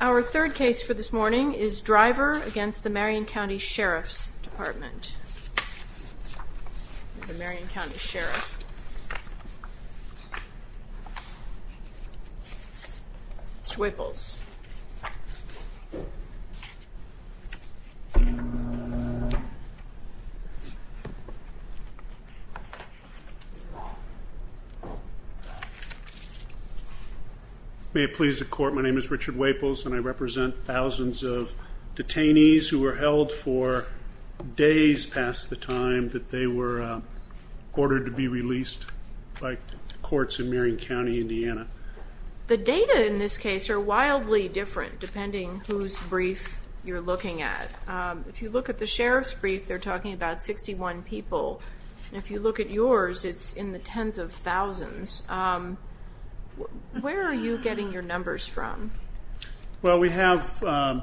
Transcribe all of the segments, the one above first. Our third case for this morning is Driver v. Marion County Sheriff's Department. The Marion County Sheriff, Mr. Waples. May it please the court, my name is Richard Waples and I represent thousands of detainees who were held for days past the time that they were ordered to be released by courts in Marion County, Indiana. The data in this case are wildly different depending whose brief you're looking at. If you look at the sheriff's brief, they're talking about 61 people. If you look at yours, it's in the tens of thousands. Where are you getting your numbers from? Well, we have, I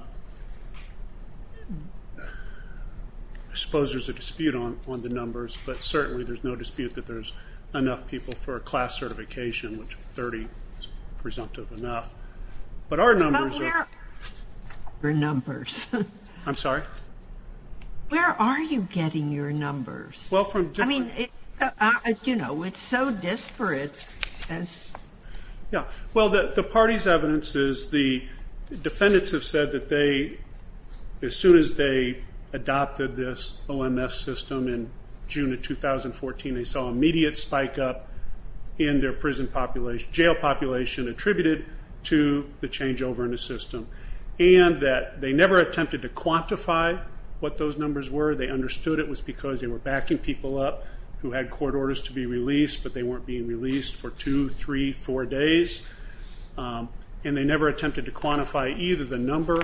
suppose there's a dispute on the numbers, but certainly there's no dispute that there's enough people for a class certification, which 30 is presumptive enough. But our numbers are... Your numbers. I'm sorry? Where are you getting your numbers? Well, from different... I mean, you know, it's so disparate as... Well, the party's evidence is the defendants have said that they, as soon as they adopted this OMS system in June of 2014, they saw immediate spike up in their prison population, jail population attributed to the changeover in the system. And that they never attempted to quantify what those numbers were. They understood it was because they were backing people up who had court orders to be released, but they weren't being released for two, three, four days. And they never attempted to quantify either the number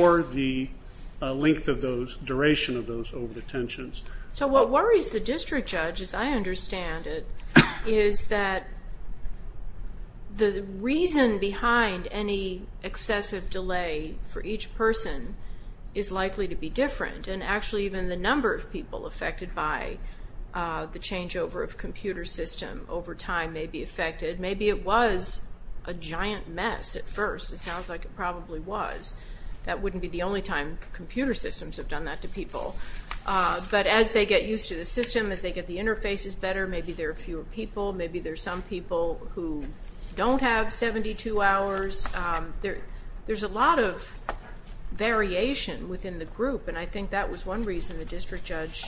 or the length of those, duration of those over-detentions. So what worries the district judge, as I understand it, is that the reason behind any excessive delay for each person is likely to be different. And actually even the number of people affected by the changeover of computer system over time may be affected. Maybe it was a giant mess at first. It sounds like it probably was. That wouldn't be the only time computer systems have done that to people. But as they get used to the system, as they get the interfaces better, maybe there are fewer people. Maybe there are some people who don't have 72 hours. There's a lot of variation within the group, and I think that was one reason the district judge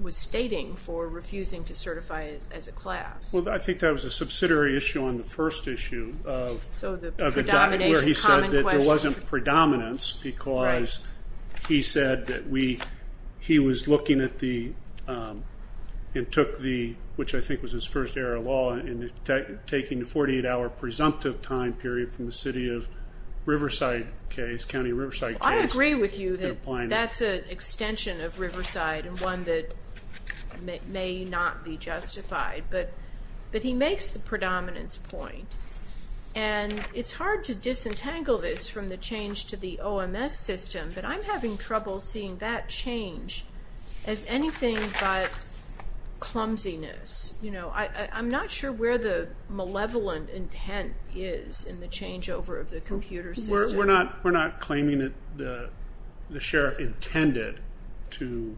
was stating for refusing to certify as a class. Well, I think that was a subsidiary issue on the first issue of the document where he said that there wasn't predominance because he said that he was looking at the, and took the, which I think was his first era law, and taking the 48-hour presumptive time period from the city of Riverside case, county of Riverside case. I agree with you that that's an extension of Riverside and one that may not be justified. But he makes the predominance point, and it's hard to disentangle this from the change to the OMS system, but I'm having trouble seeing that change as anything but clumsiness. I'm not sure where the malevolent intent is in the changeover of the computer system. We're not claiming that the sheriff intended to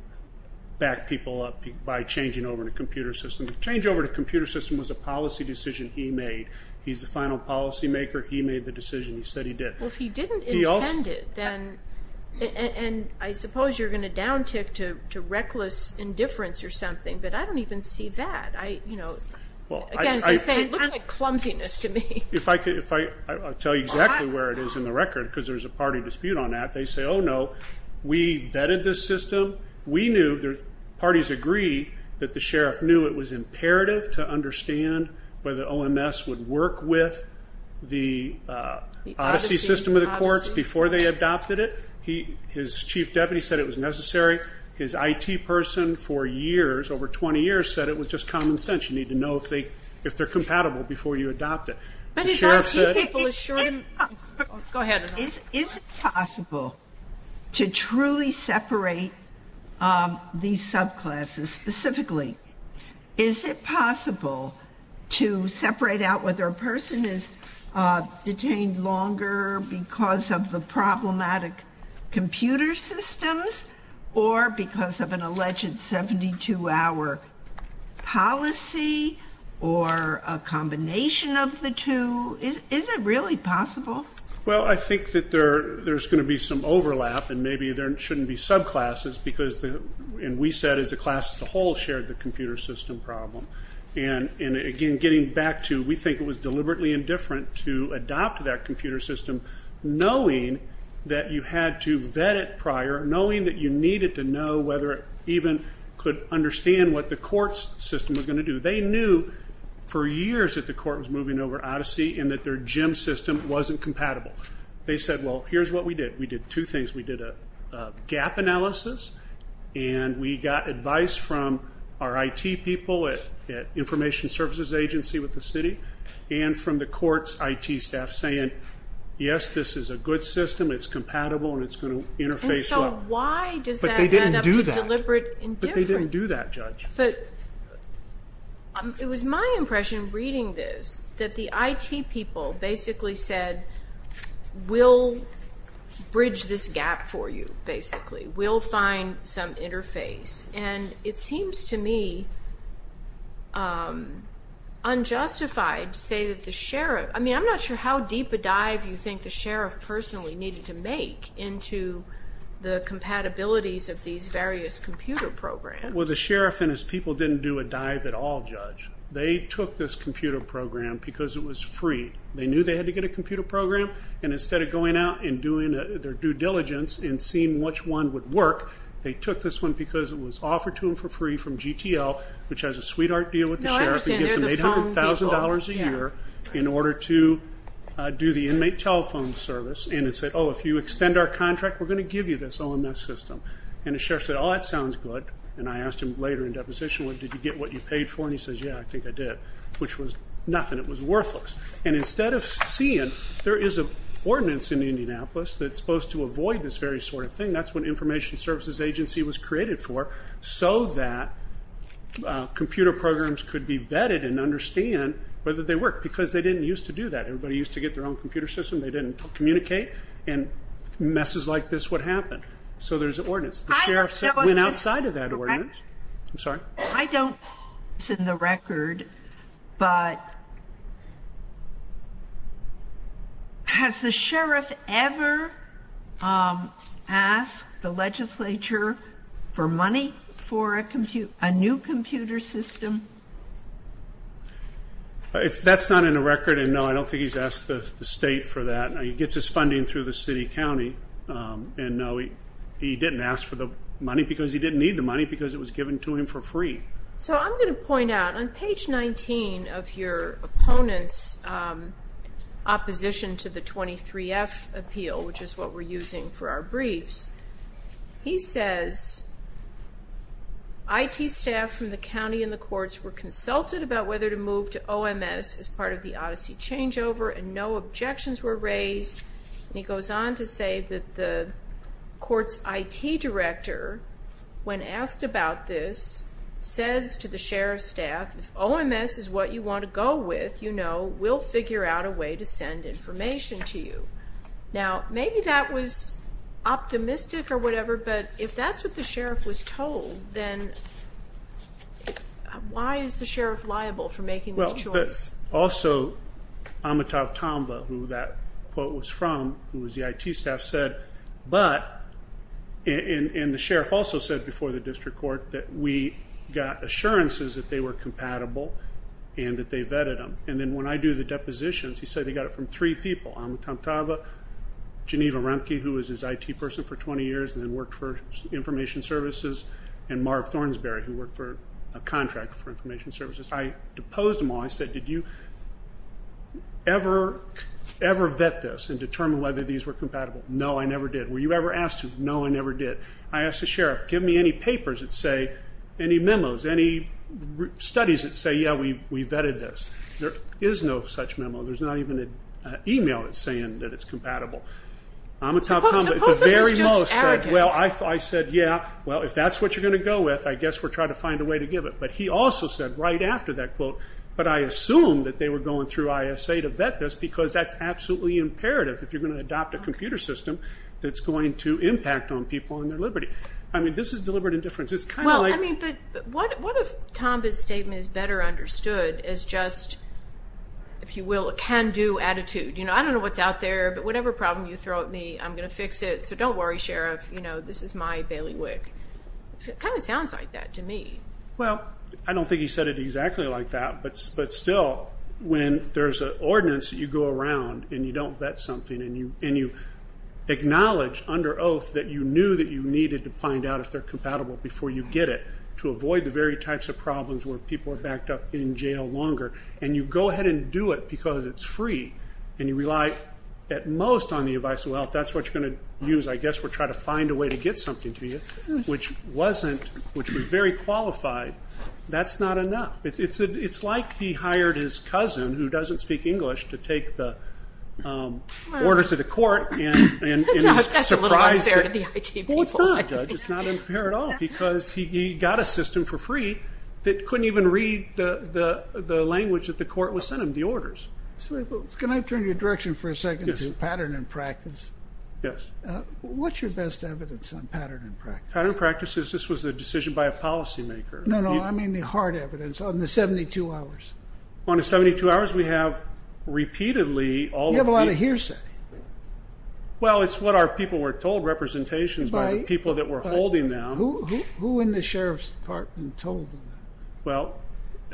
back people up by changing over to computer system. The changeover to computer system was a policy decision he made. He's the final policymaker. He made the decision. He said he did. Well, if he didn't intend it, then, and I suppose you're going to down-tick to reckless indifference or something, but I don't even see that. Again, it looks like clumsiness to me. I'll tell you exactly where it is in the record because there's a party dispute on that. They say, oh, no, we vetted this system. We knew, parties agreed that the sheriff knew it was imperative to understand whether OMS would work with the Odyssey system of the courts before they adopted it. His chief deputy said it was necessary. His IT person for years, over 20 years, said it was just common sense. You need to know if they're compatible before you adopt it. But his IT people assured him. Go ahead. Is it possible to truly separate these subclasses specifically? Is it possible to separate out whether a person is detained longer because of the problematic computer systems or because of an alleged 72-hour policy or a combination of the two? Is it really possible? Well, I think that there's going to be some overlap and maybe there shouldn't be subclasses because, and we said as a class as a whole, shared the computer system problem. And, again, getting back to we think it was deliberately indifferent to adopt that computer system knowing that you had to vet it prior, knowing that you needed to know whether it even could understand what the court's system was going to do. They knew for years that the court was moving over Odyssey and that their gym system wasn't compatible. They said, well, here's what we did. We did two things. We did a gap analysis and we got advice from our IT people at Information Services Agency with the city and from the court's IT staff saying, yes, this is a good system. It's compatible and it's going to interface well. And so why does that end up deliberate indifference? But they didn't do that, Judge. But it was my impression reading this that the IT people basically said, we'll bridge this gap for you, basically. We'll find some interface. And it seems to me unjustified to say that the sheriff, I mean, I'm not sure how deep a dive you think the sheriff personally needed to make into the compatibilities of these various computer programs. Well, the sheriff and his people didn't do a dive at all, Judge. They took this computer program because it was free. They knew they had to get a computer program. And instead of going out and doing their due diligence and seeing which one would work, they took this one because it was offered to them for free from GTL, which has a sweetheart deal with the sheriff. It gives them $800,000 a year in order to do the inmate telephone service. And it said, oh, if you extend our contract, we're going to give you this OMS system. And the sheriff said, oh, that sounds good. And I asked him later in deposition, well, did you get what you paid for? And he says, yeah, I think I did, which was nothing. It was worthless. And instead of seeing, there is an ordinance in Indianapolis that's supposed to avoid this very sort of thing. That's what Information Services Agency was created for so that computer programs could be vetted and understand whether they work because they didn't used to do that. Everybody used to get their own computer system. They didn't communicate. And messes like this would happen. So there's an ordinance. The sheriff went outside of that ordinance. I'm sorry? I don't think it's in the record, but has the sheriff ever asked the legislature for money for a new computer system? That's not in the record, and no, I don't think he's asked the state for that. He gets his funding through the city county, and no, he didn't ask for the money because he didn't need the money because it was given to him for free. So I'm going to point out, on page 19 of your opponent's opposition to the 23F appeal, which is what we're using for our briefs, he says, IT staff from the county and the courts were consulted about whether to move to OMS as part of the Odyssey changeover, and no objections were raised. And he goes on to say that the court's IT director, when asked about this, says to the sheriff's staff, if OMS is what you want to go with, you know, we'll figure out a way to send information to you. Now, maybe that was optimistic or whatever, but if that's what the sheriff was told, then why is the sheriff liable for making this choice? Also, Amitav Tamba, who that quote was from, who was the IT staff, said, but, and the sheriff also said before the district court, that we got assurances that they were compatible and that they vetted them. And then when I do the depositions, he said he got it from three people, Amitav Tamba, Geneva Remke, who was his IT person for 20 years and then worked for information services, and Marv Thornsberry, who worked for a contract for information services. I deposed them all. I said, did you ever vet this and determine whether these were compatible? No, I never did. Were you ever asked to? No, I never did. I asked the sheriff, give me any papers that say, any memos, any studies that say, yeah, we vetted this. There is no such memo. There's not even an email saying that it's compatible. Amitav Tamba at the very most said, well, I said, yeah, well if that's what you're going to go with, I guess we're trying to find a way to give it. But he also said right after that quote, but I assumed that they were going through ISA to vet this because that's absolutely imperative if you're going to adopt a computer system that's going to impact on people and their liberty. I mean, this is deliberate indifference. It's kind of like. Well, I mean, but what if Tamba's statement is better understood as just, if you will, a can-do attitude? I don't know what's out there, but whatever problem you throw at me, I'm going to fix it, so don't worry, sheriff. This is my bailiwick. It kind of sounds like that to me. Well, I don't think he said it exactly like that. But still, when there's an ordinance that you go around and you don't vet something and you acknowledge under oath that you knew that you needed to find out if they're compatible before you get it to avoid the very types of problems where people are backed up in jail longer and you go ahead and do it because it's free and you rely at most on the advice, well, if that's what you're going to use, I guess we're trying to find a way to get something to you, which was very qualified. That's not enough. It's like he hired his cousin, who doesn't speak English, to take the orders to the court and surprise them. That's a little unfair to the IT people. Well, it's not, Judge. It's not unfair at all because he got a system for free that couldn't even read the language that the court was sending him, the orders. Can I turn your direction for a second to pattern and practice? Yes. What's your best evidence on pattern and practice? Pattern and practice is this was a decision by a policymaker. No, no, I mean the hard evidence on the 72 hours. On the 72 hours, we have repeatedly all the people. You have a lot of hearsay. Well, it's what our people were told, representations by the people that were holding them. Who in the sheriff's department told them that? Well,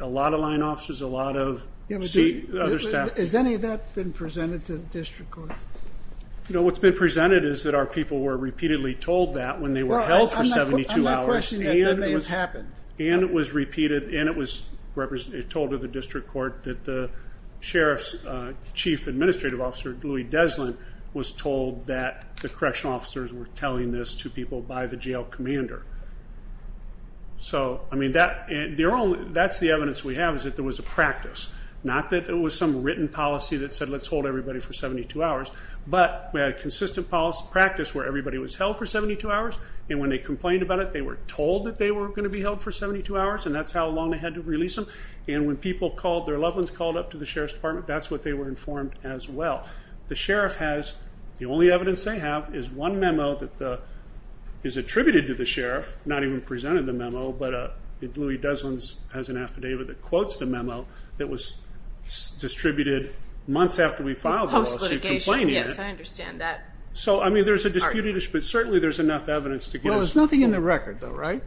a lot of line officers, a lot of other staff. Has any of that been presented to the district court? No, what's been presented is that our people were repeatedly told that when they were held for 72 hours. I'm not questioning that. That may have happened. And it was repeated, and it was told to the district court that the sheriff's chief administrative officer, Louie Deslin, was told that the correctional officers were telling this to people by the jail commander. So, I mean, that's the evidence we have is that there was a practice. Not that it was some written policy that said let's hold everybody for 72 hours, but we had a consistent practice where everybody was held for 72 hours, and when they complained about it, they were told that they were going to be held for 72 hours, and that's how long they had to release them. And when people called, their loved ones called up to the sheriff's department, that's what they were informed as well. The sheriff has, the only evidence they have is one memo that is attributed to the sheriff, not even presented the memo, but Louie Deslin has an affidavit that quotes the memo that was distributed months after we filed the policy. Post litigation, yes, I understand that. So, I mean, there's a disputed issue, but certainly there's enough evidence to give us. Well, there's nothing in the record though, right?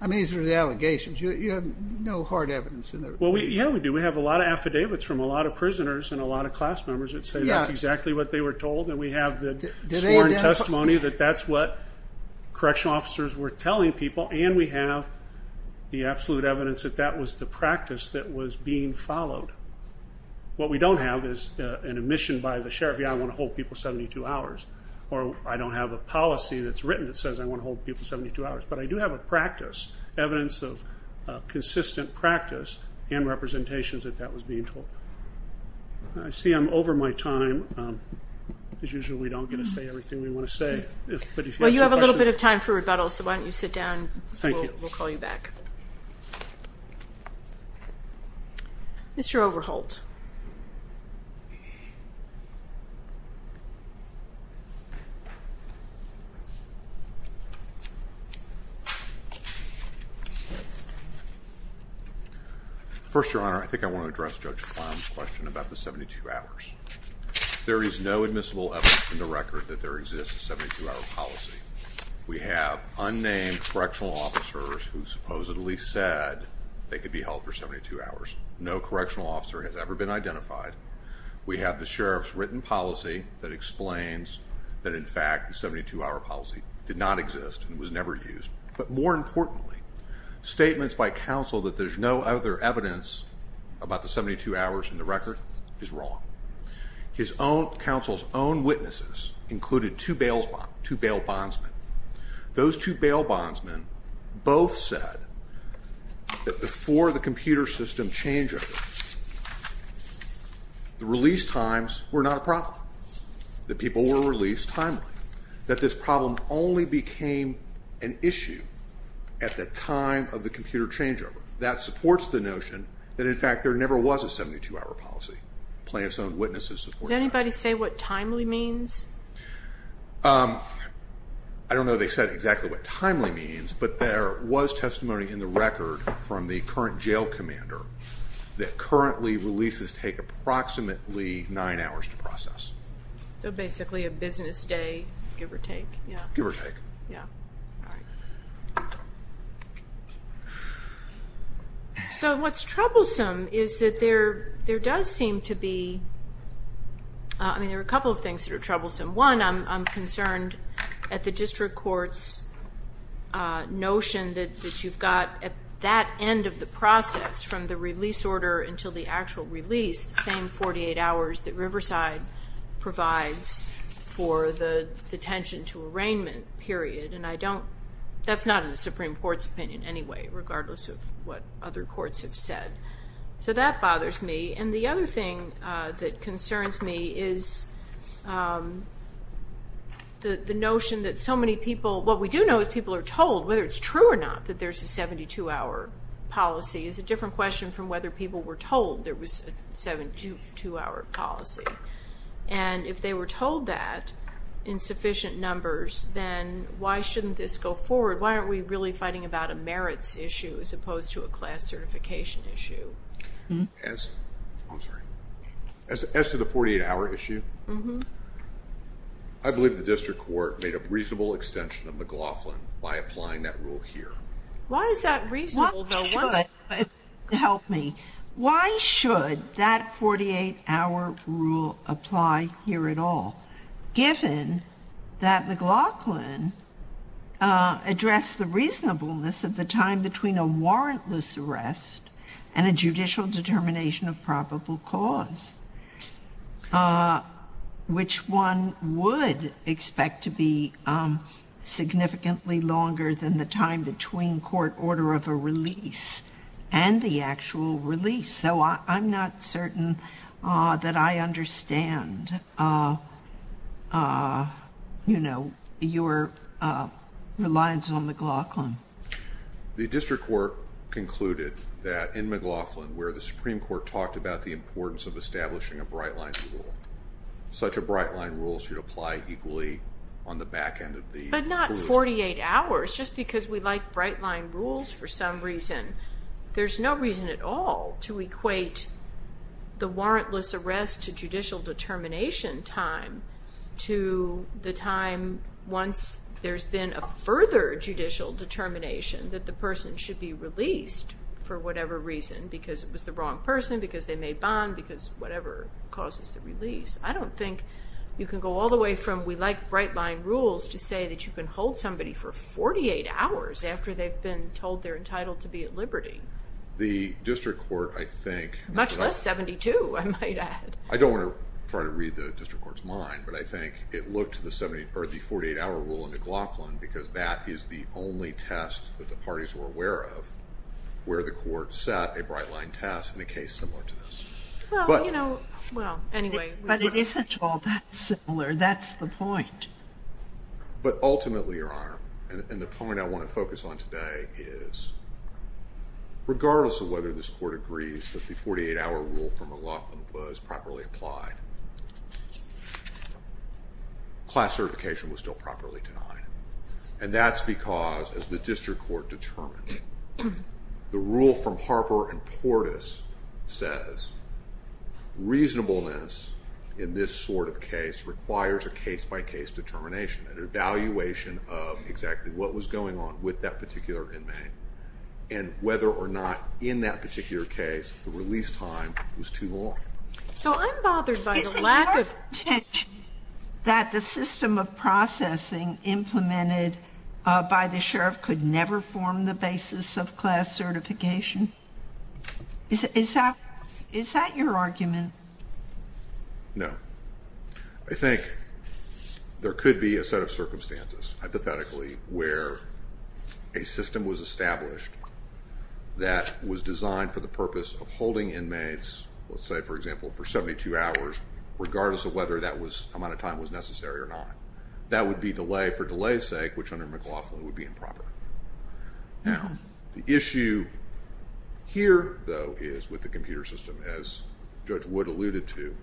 I mean, these are the allegations. You have no hard evidence in there. Well, yeah, we do. We have a lot of affidavits from a lot of prisoners and a lot of class members that say that's exactly what they were told, and we have the sworn testimony that that's what correctional officers were telling people, and we have the absolute evidence that that was the practice that was being followed. What we don't have is an admission by the sheriff, yeah, I want to hold people 72 hours, or I don't have a policy that's written that says I want to hold people 72 hours. But I do have a practice, evidence of consistent practice and representations that that was being told. I see I'm over my time. As usual, we don't get to say everything we want to say. Well, you have a little bit of time for rebuttal, so why don't you sit down and we'll call you back. Mr. Overholt. First, Your Honor, I think I want to address Judge Clown's question about the 72 hours. There is no admissible evidence in the record that there exists a 72 hour policy. We have unnamed correctional officers who supposedly said they could be held for 72 hours. No correctional officer has ever been identified. We have the sheriff's written policy that explains that in fact, the 72 hour policy did not exist and was never used. But more importantly, statements by counsel that there's no other evidence about the 72 hours in the record is wrong. His own counsel's own witnesses included two bails, two bail bondsmen. Those two bail bondsmen both said that before the computer system changeover, the release times were not a problem. The people were released timely. That this problem only became an issue at the time of the computer changeover. That supports the notion that in fact, there never was a 72 hour policy. Plaintiff's own witnesses. Does anybody say what timely means? I don't know. They said exactly what timely means, but there was testimony in the record from the current jail commander. That currently releases take approximately nine hours to process. So basically a business day, give or take. Give or take. Yeah. I mean, there were a couple of things that are troublesome. One I'm concerned at the district court's notion that you've got at that end of the process from the release order until the actual release, the same 48 hours that Riverside provides for the detention to arraignment period. And I don't, that's not in the Supreme court's opinion anyway, regardless of what other courts have said. So that bothers me. And the other thing that concerns me is the notion that so many people, what we do know is people are told whether it's true or not, that there's a 72 hour policy is a different question from whether people were told there was a 72 hour policy. And if they were told that in sufficient numbers, then why shouldn't this go forward? Why aren't we really fighting about a merits issue as opposed to a class certification issue? As I'm sorry, as, as to the 48 hour issue, I believe the district court made a reasonable extension of McLaughlin by applying that rule here. Why is that reasonable? Help me. Why should that 48 hour rule apply here at all? Given that McLaughlin address the reasonableness of the time between a judicial determination of probable cause, which one would expect to be significantly longer than the time between court order of a release and the actual release. So I'm not certain that I understand, you know, your reliance on McLaughlin. The district court concluded that in McLaughlin where the Supreme Court talked about the importance of establishing a bright line rule, such a bright line rule should apply equally on the back end of the. But not 48 hours just because we like bright line rules for some reason. There's no reason at all to equate the warrantless arrest to judicial determination time to the time once there's been a further judicial determination that the person should be released for whatever reason, because it was the wrong person, because they made bond, because whatever causes the release. I don't think you can go all the way from, we like bright line rules to say that you can hold somebody for 48 hours after they've been told they're entitled to be at liberty. The district court, I think. Much less 72, I might add. I don't want to try to read the district court's mind, but I think it looked to the 70 or the 48 hour rule in McLaughlin because that is the only test that the parties were aware of where the court set a bright line test in a case similar to this. Well, you know, well, anyway. But it isn't all that similar. That's the point. But ultimately, Your Honor, and the point I want to focus on today is regardless of whether this court agrees that the 48 hour rule from McLaughlin was properly applied, class certification was still properly denied. And that's because, as the district court determined, the rule from Harper and Portis says, reasonableness in this sort of case requires a case-by-case determination, an evaluation of exactly what was going on with that particular inmate, and whether or not in that particular case the release time was too long. So I'm bothered by the lack of... by the sheriff could never form the basis of class certification. Is that your argument? No. I think there could be a set of circumstances, hypothetically, where a system was established that was designed for the purpose of holding inmates, let's say, for example, for 72 hours, regardless of whether that amount of time was necessary or not. That would be delay for delay's sake, which under McLaughlin would be improper. Now, the issue here, though, is with the computer system, as Judge Wood alluded to.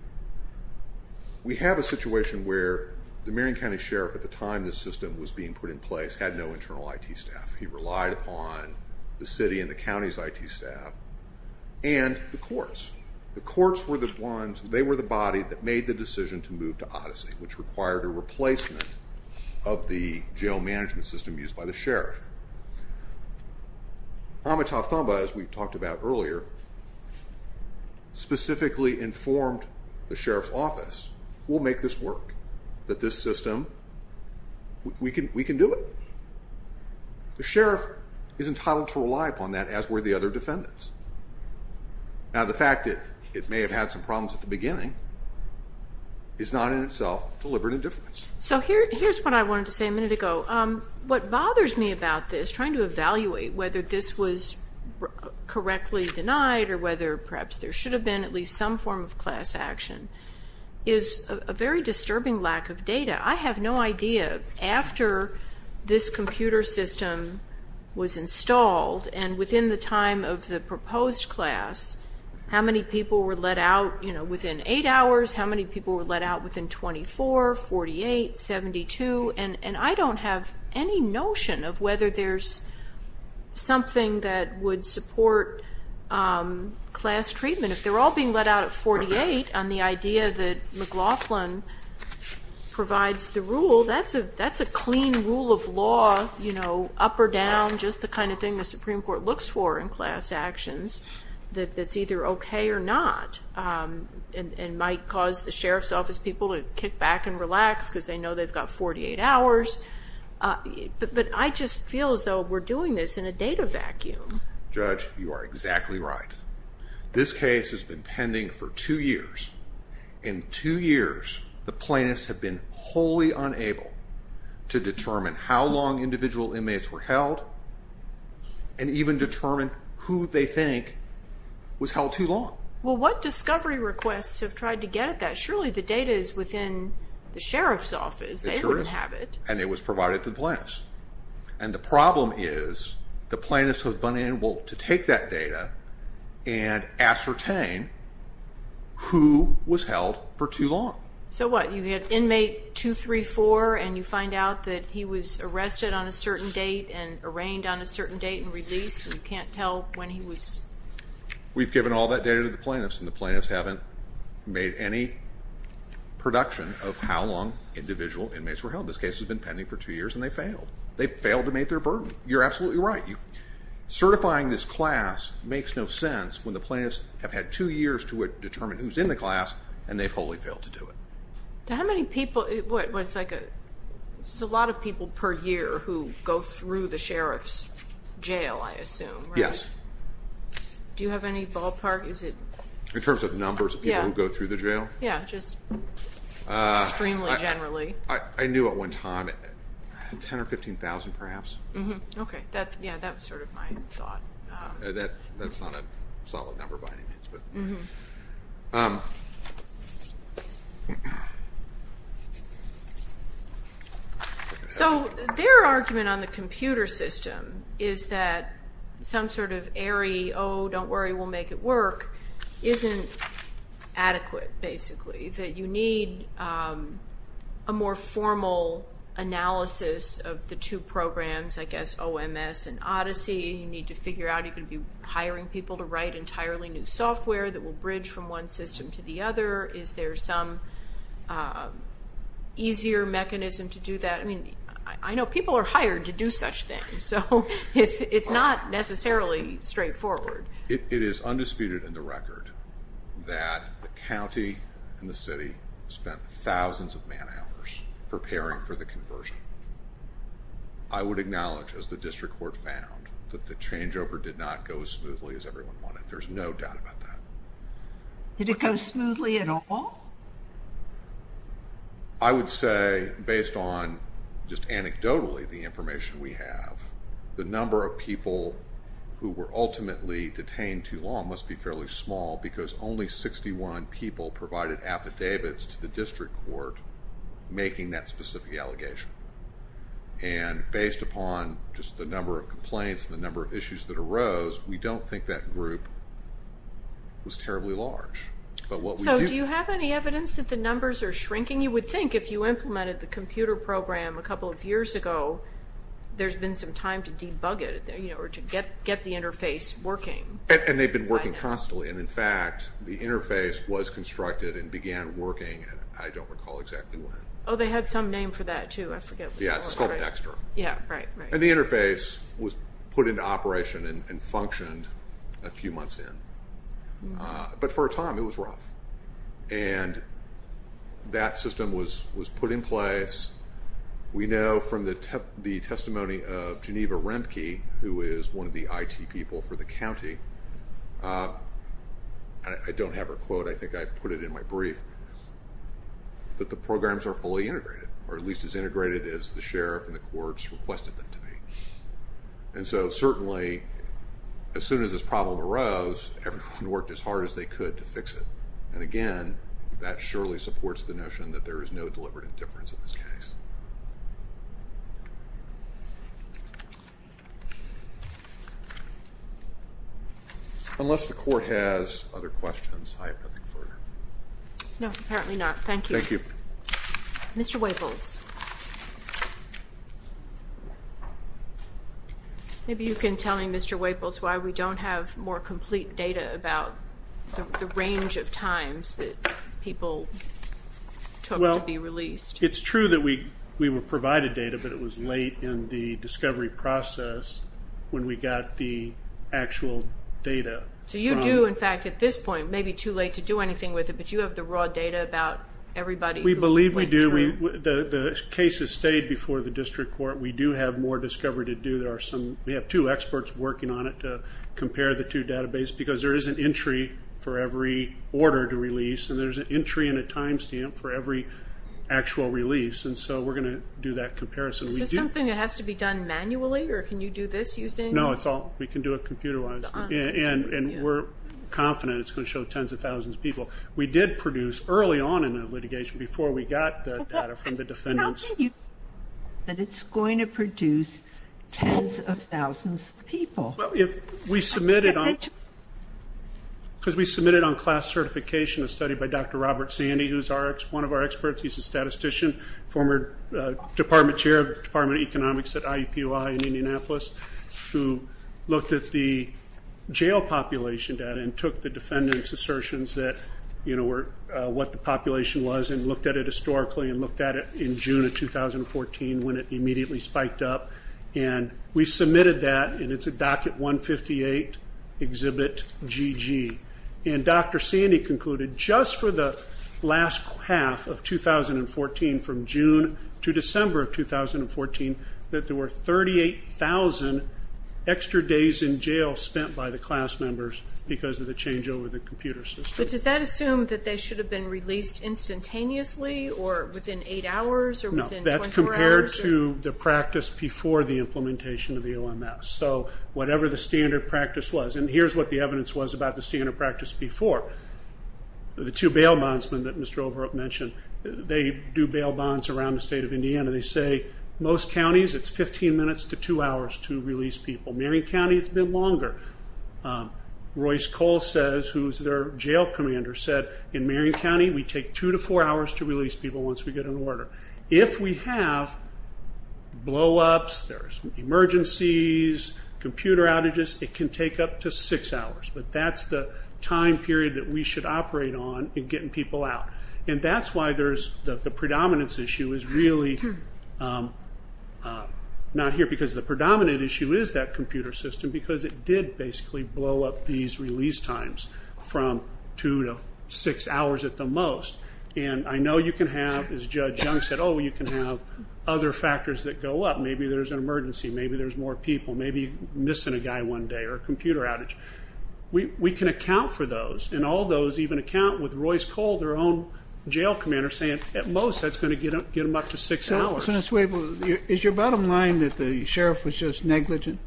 We have a situation where the Marion County Sheriff, at the time this system was being put in place, had no internal IT staff. He relied upon the city and the county's IT staff and the courts. The courts were the ones, they were the body that made the decision to move to Odyssey, which required a replacement of the jail management system used by the sheriff. Amitav Thamba, as we talked about earlier, specifically informed the sheriff's office, we'll make this work, that this system, we can do it. The sheriff is entitled to rely upon that, as were the other defendants. Now, the fact that it may have had some problems at the beginning is not in itself deliberate indifference. So here's what I wanted to say a minute ago. What bothers me about this, trying to evaluate whether this was correctly denied or whether perhaps there should have been at least some form of class action, is a very disturbing lack of data. I have no idea, after this computer system was installed and within the time of the proposed class, how many people were let out within eight hours, how many people were let out within 24, 48, 72, and I don't have any notion of whether there's something that would support class treatment. If they're all being let out at 48 on the idea that McLaughlin provides the rule, that's a clean rule of law, up or down, just the kind of thing the Supreme Court looks for in class actions that's either okay or not and might cause the sheriff's office people to kick back and relax because they know they've got 48 hours. But I just feel as though we're doing this in a data vacuum. Judge, you are exactly right. This case has been pending for two years. In two years, the plaintiffs have been wholly unable to determine how long individual inmates were held and even determine who they think was held too long. Well, what discovery requests have tried to get at that? Surely the data is within the sheriff's office. It sure is. They don't have it. And it was provided to the plaintiffs. And the problem is the plaintiffs have been unable to take that data and ascertain who was held for too long. So what? You had inmate 234 and you find out that he was arrested on a certain date and arraigned on a certain date and released and you can't tell when he was? We've given all that data to the plaintiffs and the plaintiffs haven't made any production of how long individual inmates were held. This case has been pending for two years and they failed. They failed to meet their burden. You're absolutely right. Certifying this class makes no sense when the plaintiffs have had two years to determine who's in the class and they've wholly failed to do it. How many people? It's a lot of people per year who go through the sheriff's jail, I assume. Yes. Do you have any ballpark? In terms of numbers of people who go through the jail? Yeah, just extremely generally. I knew at one time 10,000 or 15,000 perhaps. Okay. Yeah, that was sort of my thought. That's not a solid number by any means. So their argument on the computer system is that some sort of airy, oh, don't worry, we'll make it work, isn't adequate basically, that you need a more formal analysis of the two programs, I guess, OMS and Odyssey. You need to figure out if you're hiring people to write entirely new software that will bridge from one system to the other. Is there some easier mechanism to do that? I mean, I know people are hired to do such things, so it's not necessarily straightforward. It is undisputed in the record that the county and the city spent thousands of man hours preparing for the conversion. I would acknowledge, as the district court found, that the changeover did not go as smoothly as everyone wanted. There's no doubt about that. Did it go smoothly at all? I would say based on just anecdotally the information we have, the number of people who were ultimately detained too long must be fairly small because only 61 people provided affidavits to the district court making that specific allegation. And based upon just the number of complaints and the number of issues that arose, we don't think that group was terribly large. So do you have any evidence that the numbers are shrinking? You would think if you implemented the computer program a couple of years ago, there's been some time to debug it or to get the interface working. And they've been working constantly. And, in fact, the interface was constructed and began working, and I don't recall exactly when. Oh, they had some name for that too. I forget. Yes, it's called Dexter. Yeah, right, right. And the interface was put into operation and functioned a few months in. But for a time it was rough. And that system was put in place. We know from the testimony of Geneva Remke, who is one of the IT people for the county, I don't have her quote, I think I put it in my brief, that the programs are fully integrated or at least as integrated as the sheriff and the courts requested them to be. And so, certainly, as soon as this problem arose, everyone worked as hard as they could to fix it. And, again, that surely supports the notion that there is no deliberate indifference in this case. Unless the court has other questions, I have nothing further. No, apparently not. Thank you. Thank you. Mr. Waples. Maybe you can tell me, Mr. Waples, why we don't have more complete data about the range of times that people took to be released. It's true that we were provided data, but it was late in the discovery process when we got the actual data. So you do, in fact, at this point, maybe too late to do anything with it, but you have the raw data about everybody who went through. We believe we do. The case has stayed before the district court. We do have more discovery to do. We have two experts working on it to compare the two databases because there is an entry for every order to release, and there's an entry and a time stamp for every actual release. And so we're going to do that comparison. Is this something that has to be done manually, or can you do this using? No, we can do it computerized. And we're confident it's going to show tens of thousands of people. We did produce early on in the litigation, before we got the data from the defendants. But it's going to produce tens of thousands of people. Because we submitted on class certification a study by Dr. Robert Sandy, who's one of our experts. He's a statistician, former department chair of the Department of Economics at IUPUI in Indianapolis, who looked at the jail population data and took the defendants' assertions that were what the population was and looked at it historically and looked at it in June of 2014 when it immediately spiked up. And we submitted that, and it's a Docket 158 Exhibit GG. And Dr. Sandy concluded just for the last half of 2014, from June to December of 2014, that there were 38,000 extra days in jail spent by the class members because of the change over the computer system. But does that assume that they should have been released instantaneously or within eight hours or within 24 hours? No, that's compared to the practice before the implementation of the OMS. So whatever the standard practice was. And here's what the evidence was about the standard practice before. The two bail bondsmen that Mr. Overholt mentioned, they do bail bonds around the state of Indiana. They say most counties, it's 15 minutes to two hours to release people. Marion County, it's been longer. Royce Cole says, who's their jail commander, said, in Marion County we take two to four hours to release people once we get an order. If we have blowups, there's emergencies, computer outages, it can take up to six hours. But that's the time period that we should operate on in getting people out. And that's why the predominance issue is really not here because the predominant issue is that computer system because it did basically blow up these release times from two to six hours at the most. And I know you can have, as Judge Young said, oh, you can have other factors that go up. Maybe there's an emergency. Maybe there's more people. Maybe you're missing a guy one day or a computer outage. We can account for those. And all those even account with Royce Cole, their own jail commander, saying at most that's going to get them up to six hours. Is your bottom line that the sheriff was just negligent?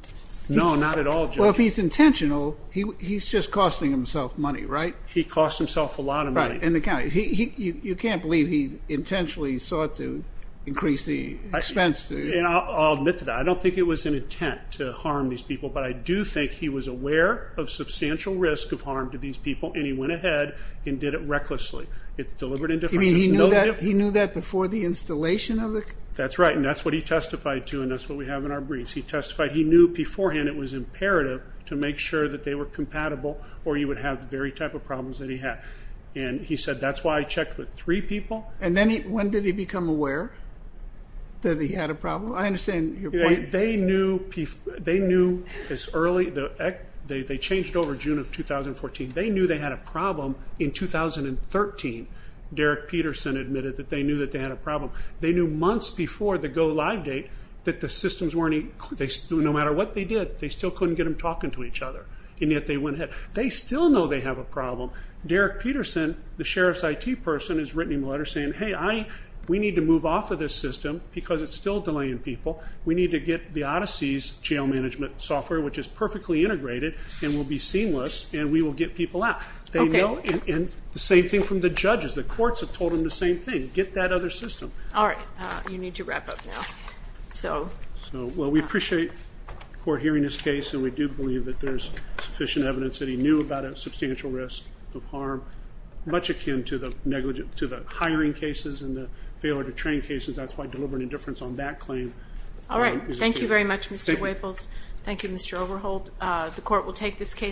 No, not at all, Judge. Well, if he's intentional, he's just costing himself money, right? He cost himself a lot of money. Right, in the county. You can't believe he intentionally sought to increase the expense. I'll admit to that. I don't think it was an intent to harm these people, but I do think he was aware of substantial risk of harm to these people, and he went ahead and did it recklessly. It's deliberate indifference. He knew that before the installation of the? That's right, and that's what he testified to, and that's what we have in our briefs. He testified. He knew beforehand it was imperative to make sure that they were compatible or you would have the very type of problems that he had, and he said that's why he checked with three people. And then when did he become aware that he had a problem? I understand your point. They knew as early? They changed over June of 2014. They knew they had a problem in 2013. Derek Peterson admitted that they knew that they had a problem. They knew months before the go live date that the systems weren't? No matter what they did, they still couldn't get them talking to each other, and yet they went ahead. They still know they have a problem. Derek Peterson, the sheriff's IT person, has written him a letter saying, hey, we need to move off of this system because it's still delaying people. We need to get the Odyssey's jail management software, which is perfectly integrated and will be seamless, and we will get people out. They know, and the same thing from the judges. The courts have told them the same thing. Get that other system. All right. You need to wrap up now. Well, we appreciate the court hearing this case, and we do believe that there's sufficient evidence that he knew about a substantial risk of harm, much akin to the hiring cases and the failure to train cases. That's why deliberate indifference on that claim. All right. Thank you very much, Mr. Waples. Thank you, Mr. Overholt. The court will take this case.